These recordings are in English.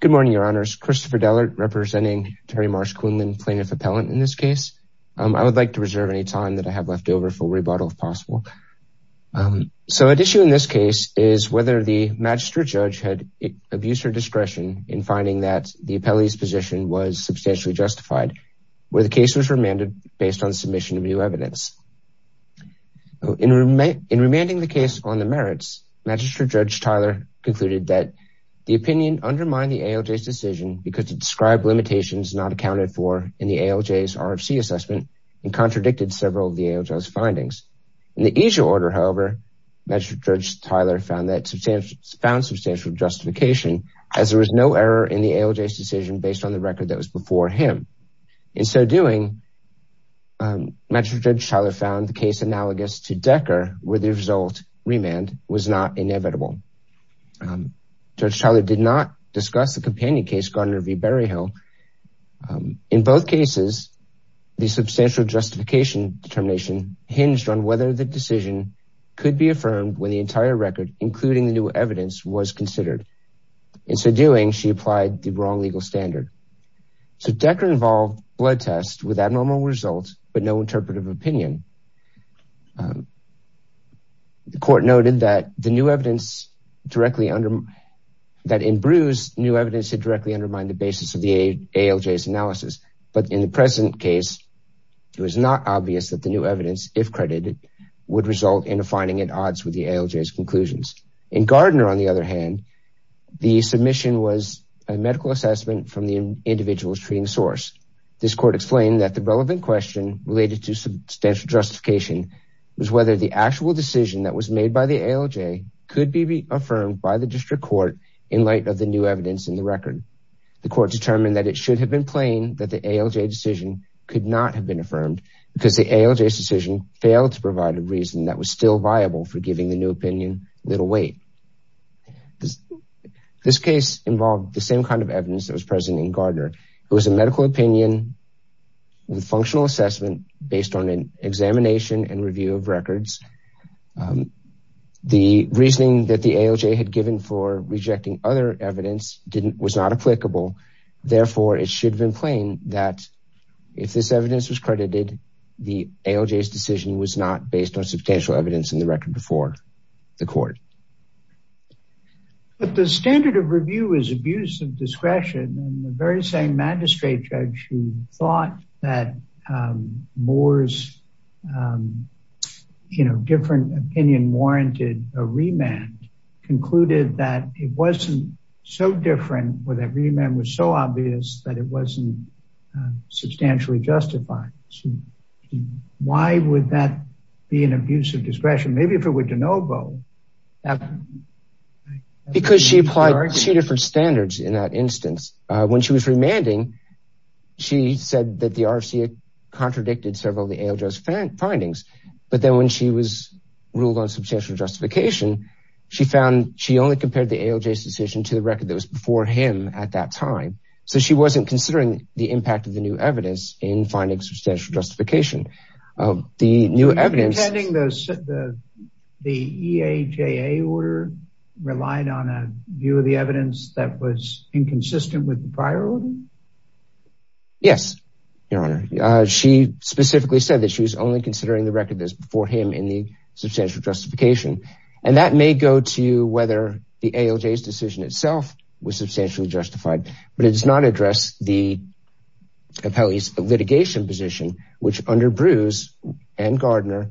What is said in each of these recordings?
Good morning, Your Honors. Christopher Dellert representing Terri Marsh-Quinlan plaintiff appellant in this case. I would like to reserve any time that I have left over for rebuttal if possible. So at issue in this case is whether the Magistrate Judge had abuse or discretion in finding that the appellee's position was substantially justified, where the case was remanded based on submission of new evidence. In remanding the case on the merits, Magistrate Judge Tyler concluded that the opinion undermined the ALJ's decision because it described limitations not accounted for in the ALJ's RFC assessment and contradicted several of the ALJ's findings. In the issue order, however, Magistrate Judge Tyler found substantial justification as there was no error in the ALJ's decision based on the record that was before him. In so doing, Magistrate Judge Tyler found the case analogous to Decker where the result, remand, was not inevitable. Judge Tyler did not discuss the companion case, Gardner v. Berryhill. In both cases, the substantial justification determination hinged on whether the decision could be affirmed when the entire record, including the new evidence, was considered. In so doing, she applied the wrong legal standard. So Decker involved blood tests with abnormal results but no interpretive opinion. The court noted that in Brews, new evidence had directly undermined the basis of the ALJ's analysis, but in the present case, it was not obvious that the new evidence, if credited, would result in a finding at odds with the ALJ's conclusions. In Gardner, on the other hand, the submission was a medical assessment from the individual's The court determined that it should have been plain that the ALJ decision could not have been affirmed because the ALJ's decision failed to provide a reason that was still viable for giving the new opinion little weight. This case involved the same kind of evidence that was present in Gardner. It was a medical opinion with functional assessment based on an examination and review of records. The reasoning that the ALJ had given for rejecting other evidence was not applicable, therefore it should have been plain that if this evidence was credited, the ALJ's decision was not based on substantial evidence in the record before the court. But the standard of review is abuse of discretion and the very same magistrate judge who thought that Moore's, you know, different opinion warranted a remand concluded that it wasn't so different with a remand was so obvious that it wasn't substantially justified. Why would that be an abuse of discretion, maybe if it were de novo? Because she applied two different standards in that instance. When she was remanding, she said that the RFC contradicted several of the ALJ's findings, but then when she was ruled on substantial justification, she found she only compared the ALJ's decision to the record that was before him at that time. So she wasn't considering the impact of the new evidence in finding substantial justification of the new evidence. You're intending the EAJA order relied on a view of the evidence that was inconsistent with the prior order? Yes, Your Honor. She specifically said that she was only considering the record that was before him in the substantial justification. And that may go to whether the ALJ's decision itself was substantially justified, but it does not address the appellee's litigation position, which under Bruce and Gardner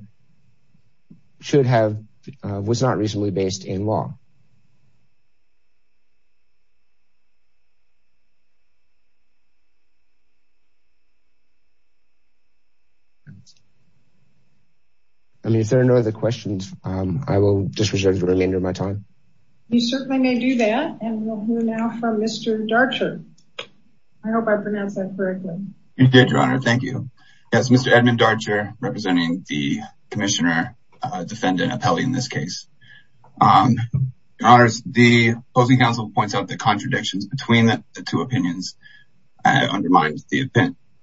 should have, was not reasonably based in law. If there are no other questions, I will just reserve the remainder of my time. You certainly may do that. And we'll hear now from Mr. Darcher. I hope I pronounced that correctly. You did, Your Honor. Thank you. Yes, Mr. Edmund Darcher, representing the commissioner, defendant, appellee in this case. Your Honors, the opposing counsel points out the contradictions between the two opinions undermined the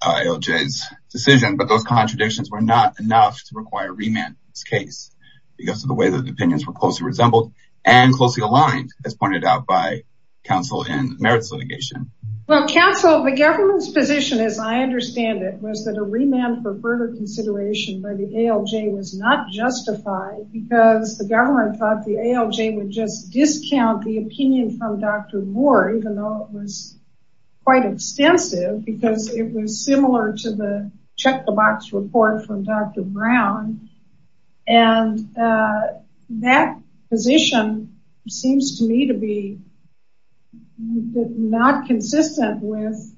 ALJ's decision, but those contradictions were not enough to require remand in this case because of the way that the opinions were closely resembled and closely aligned, as pointed out by counsel in merits litigation. Well, counsel, the government's position, as I understand it, was that a remand for further consideration by the ALJ was not justified because the government thought the ALJ would just discount the opinion from Dr. Moore, even though it was quite extensive, because it was similar to the check the box report from Dr. Brown. And that position seems to me to be not consistent with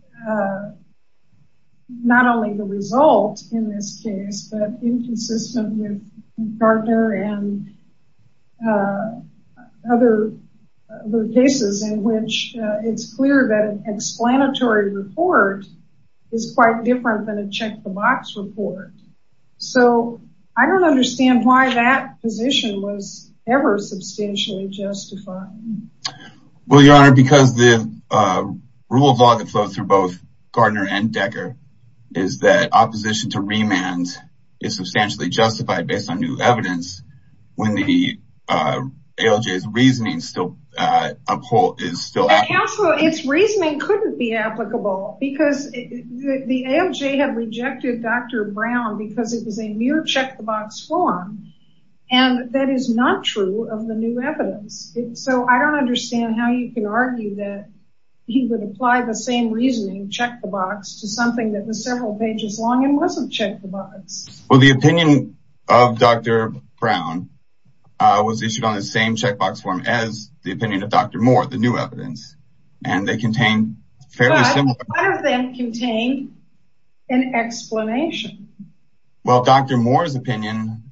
not only the result in this case, but inconsistent with Darcher and other cases in which it's clear that an explanatory report is quite different than a check the box report. So, I don't understand why that position was ever substantially justified. Well, Your Honor, because the rule of law that flows through both Gardner and Decker is that opposition to remand is substantially justified based on new evidence when the ALJ's reasoning is still applicable. Counsel, its reasoning couldn't be applicable because the ALJ had rejected Dr. Brown because it was a mere check the box form, and that is not true of the new evidence. So, I don't understand how you can argue that he would apply the same reasoning, check the box, to something that was several pages long and wasn't check the box. Well, the opinion of Dr. Brown was issued on the same check the box form as the opinion of Dr. Moore, the new evidence, and they contain fairly similar... But, none of them contain an explanation. Well, Dr. Moore's opinion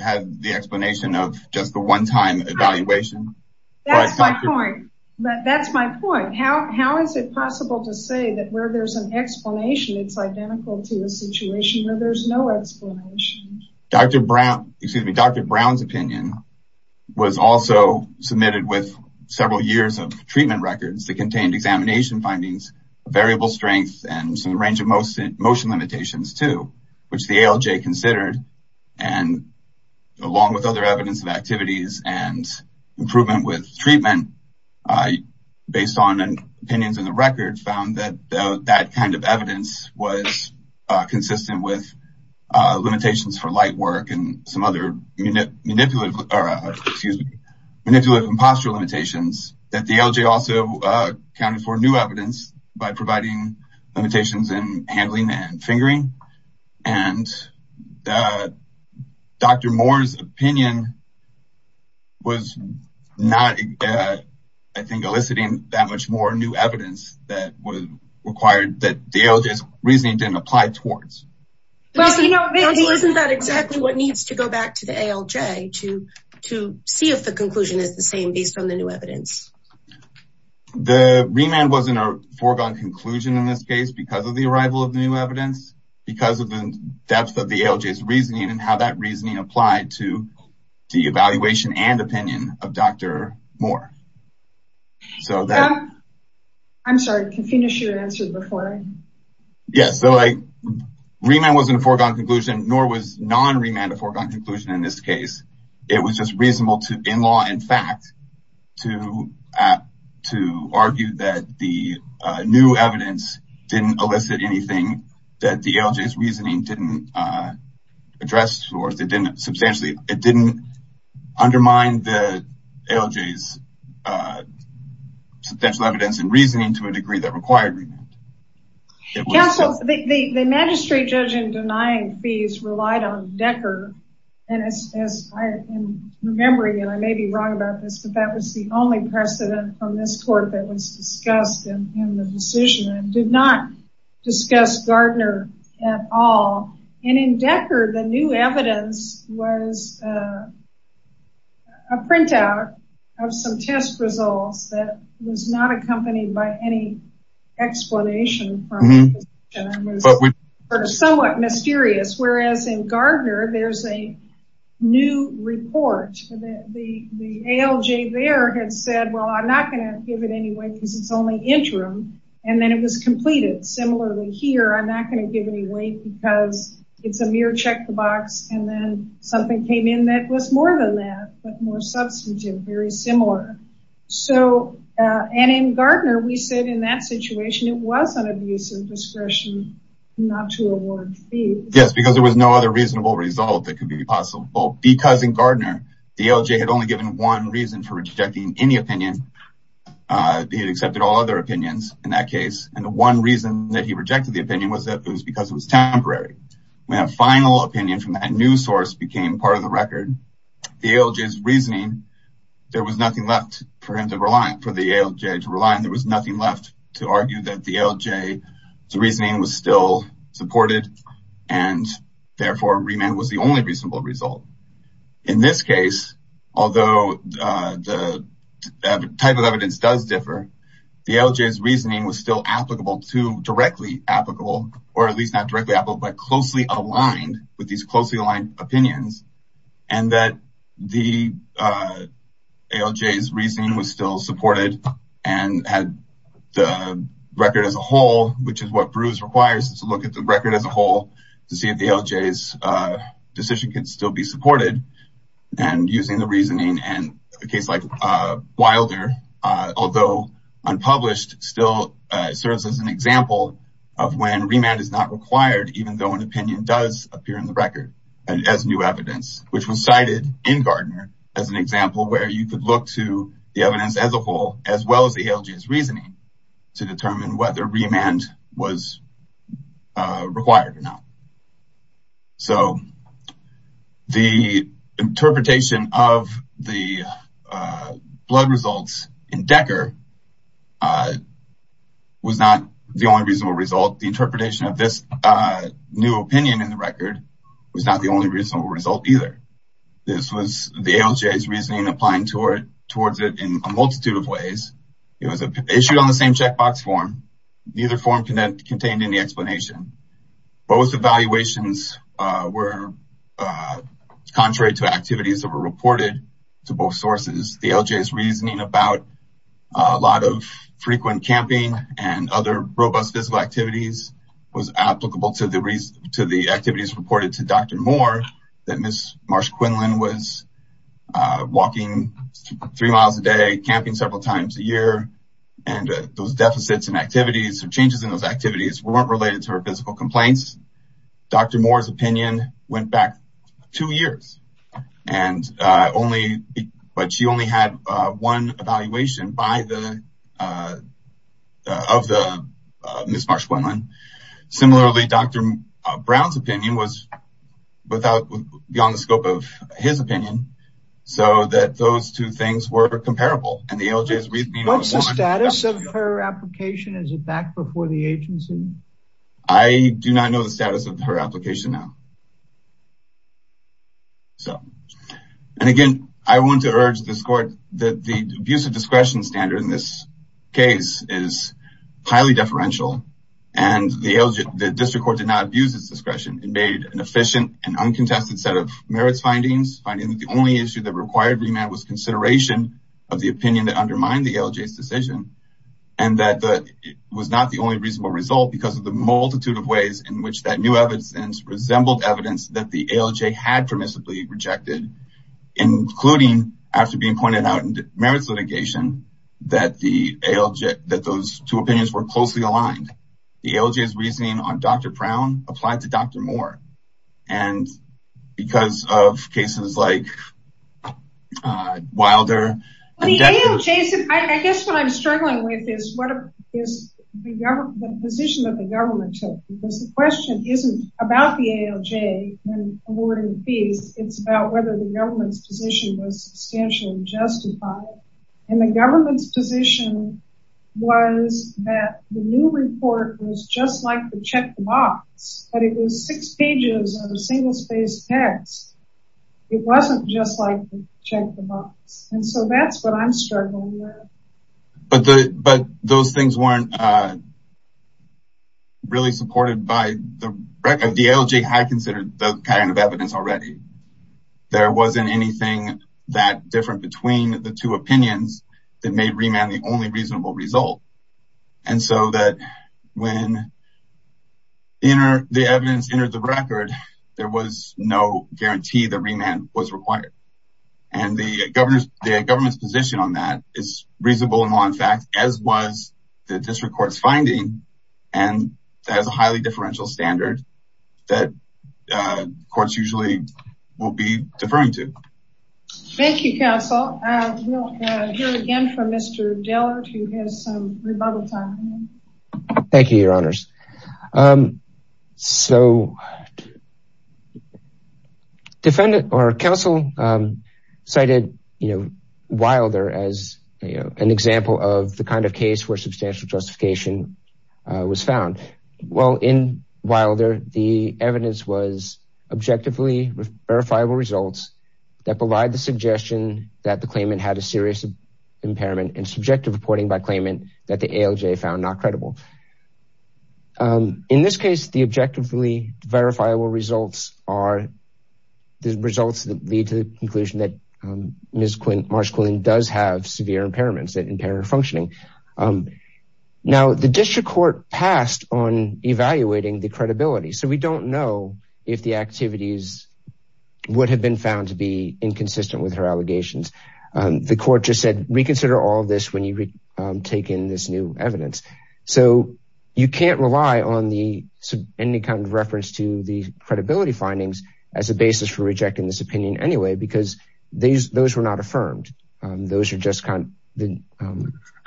had the explanation of just the one time evaluation. That's my point. That's my point. How is it possible to say that where there's an explanation it's identical to a situation where there's no explanation? Dr. Brown's opinion was also submitted with several years of treatment records that contained examination findings, variable strength, and some range of motion limitations too, which the ALJ considered, along with other evidence of activities and improvement with treatment based on opinions in the record, found that that kind of evidence was consistent with limitations for light work and some other manipulative... that the ALJ also accounted for new evidence by providing limitations in handling and fingering, and Dr. Moore's opinion was not, I think, eliciting that much more new evidence that was required that the ALJ's reasoning didn't apply towards. Isn't that exactly what needs to go back to the ALJ to see if the conclusion is the same based on the new evidence? The remand wasn't a foregone conclusion in this case because of the arrival of the new evidence, because of the depth of the ALJ's reasoning and how that reasoning applied to the evaluation and opinion of Dr. Moore. I'm sorry, can you finish your answer before I... Yeah, so remand wasn't a foregone conclusion, nor was non-remand a foregone conclusion in this case. It was just reasonable to, in law and fact, to argue that the new evidence didn't elicit anything that the ALJ's reasoning didn't address towards. It didn't undermine the ALJ's substantial evidence and reasoning to a degree that required remand. Yeah, so the magistrate judge in denying fees relied on Decker, and as I'm remembering, and I may be wrong about this, but that was the only precedent on this court that was discussed in the decision and did not discuss Gardner at all. And in Decker, the new evidence was a printout of some test results that was not accompanied by any explanation from the position and was somewhat mysterious, whereas in Gardner, there's a new report. The ALJ there had said, well, I'm not going to give it any weight because it's only interim, and then it was completed. Similarly here, I'm not going to give any weight because it's a mere check the box, and then something came in that was more than that, but more substantive, very similar. So, and in Gardner, we said in that situation, it was an abuse of discretion not to award fees. Yes, because there was no other reasonable result that could be possible because in Gardner, the ALJ had only given one reason for rejecting any opinion. He had accepted all other opinions in that case, and the one reason that he rejected the opinion was that it was because it was temporary. When a final opinion from that new source became part of the record, the ALJ's reasoning, there was nothing left for him to rely on, for the ALJ to rely on. There was nothing left to argue that the ALJ's reasoning was still supported, and therefore, remand was the only reasonable result. In this case, although the type of evidence does differ, the ALJ's reasoning was still applicable to directly applicable, or at least not directly applicable, but closely aligned with these closely aligned opinions, and that the ALJ's reasoning was still supported, and had the record as a whole, which is what Bruce requires, is to look at the record as a whole to see if the ALJ's decision can still be supported, and using the reasoning, and a case like Wilder, although unpublished, still serves as an example of when remand is not required, even though an opinion does appear in the record as new evidence, which was cited in Gardner as an example where you could look to the evidence as a whole, as well as the ALJ's reasoning, to determine whether remand was required or not. So, the interpretation of the blood results in Decker was not the only reasonable result. The interpretation of this new opinion in the record was not the only reasonable result either. This was the ALJ's reasoning applying towards it in a multitude of ways. It was issued on the same checkbox form. Neither form contained any explanation. Both evaluations were contrary to activities that were reported to both sources. The ALJ's reasoning about a lot of frequent camping and other robust physical activities was applicable to the activities reported to Dr. Moore, that Ms. Marsh-Quinlan was walking three miles a day, camping several times a year, and those deficits in activities or changes in those activities weren't related to her physical complaints. Dr. Moore's opinion went back two years, but she only had one evaluation of Ms. Marsh-Quinlan. Similarly, Dr. Brown's opinion was beyond the scope of his opinion, so that those two things were comparable. What's the status of her application? Is it back before the agency? I do not know the status of her application now. Again, I want to urge this court that the abuse of discretion standard in this case is highly deferential. The district court did not abuse its discretion. It made an efficient and uncontested set of merits findings, finding that the only issue that required remand was consideration of the opinion that undermined the ALJ's decision. It was not the only reasonable result because of the multitude of ways in which that new evidence resembled evidence that the ALJ had permissibly rejected, including, after being pointed out in the merits litigation, that those two opinions were closely aligned. The ALJ's reasoning on Dr. Brown applied to Dr. Moore. And because of cases like Wilder... I guess what I'm struggling with is the position that the government took, because the question isn't about the ALJ when awarding the fees, it's about whether the government's position was substantially justified. And the government's position was that the new report was just like the check the box, but it was six pages of a single-spaced text. It wasn't just like the check the box. And so that's what I'm struggling with. But those things weren't really supported by the record. The ALJ had considered those kinds of evidence already. There wasn't anything that different between the two opinions that made remand the only reasonable result. And so that when the evidence entered the record, there was no guarantee that remand was required. And the government's position on that is reasonable in law and fact, as was the district court's finding. And that is a highly differential standard that courts usually will be deferring to. Thank you, counsel. I will hear again from Mr. Dillard, who has some rebuttal time. Thank you, your honors. So defendant or counsel cited Wilder as an example of the kind of case where substantial justification was found. Well, in Wilder, the evidence was objectively verifiable results that provide the suggestion that the claimant had a serious impairment and subjective reporting by claimant that the ALJ found not credible. In this case, the objectively verifiable results are the results that lead to the conclusion that Ms. Marsh-Quillian does have severe impairments that impair her functioning. Now, the district court passed on evaluating the credibility, so we don't know if the activities would have been found to be inconsistent with her allegations. The court just said, reconsider all this when you take in this new evidence. So you can't rely on the any kind of reference to the credibility findings as a basis for rejecting this opinion anyway, because those were not affirmed. The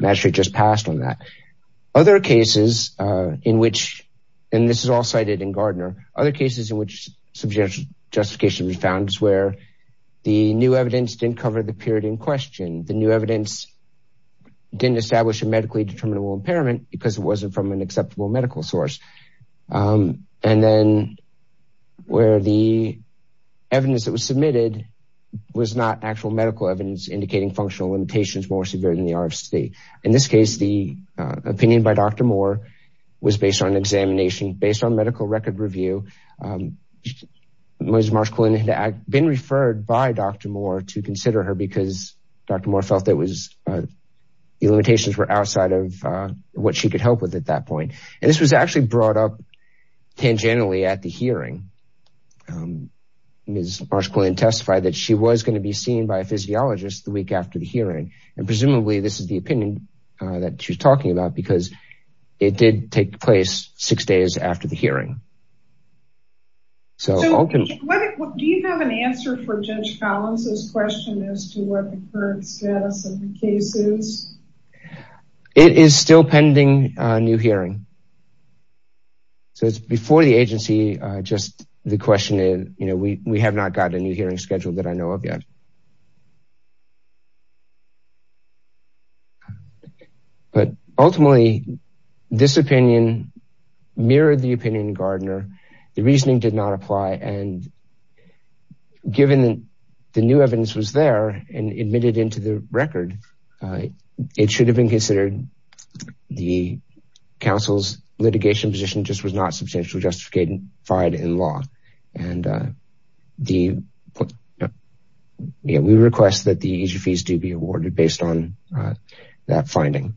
magistrate just passed on that. Other cases in which, and this is all cited in Gardner, other cases in which substantial justification was found is where the new evidence didn't cover the period in question. The new evidence didn't establish a medically determinable impairment because it wasn't from an acceptable medical source. And then where the evidence that was submitted was not actual medical evidence indicating functional limitations more severe than the RFC. In this case, the opinion by Dr. Moore was based on examination, based on medical record review. Ms. Marsh-Quillian had been referred by Dr. Moore to consider her because Dr. Moore felt that the limitations were outside of what she could help with at that point. And this was actually brought up tangentially at the hearing. Ms. Marsh-Quillian testified that she was going to be seen by a physiologist the week after the hearing. And presumably this is the opinion that she's talking about because it did take place six days after the hearing. So do you have an answer for Judge Collins' question as to what the current status of the case is? It is still pending a new hearing. So it's before the agency, just the question is, you know, we have not got a new hearing scheduled that I know of yet. But ultimately, this opinion mirrored the opinion in Gardner. The reasoning did not apply. And given the new evidence was there and admitted into the record, it should have been considered. The council's litigation position just was not substantially justified in law. And we request that the fees do be awarded based on that finding.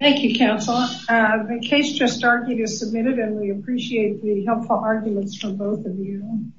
Thank you, counsel. The case just argued is submitted and we appreciate the helpful arguments from both of you.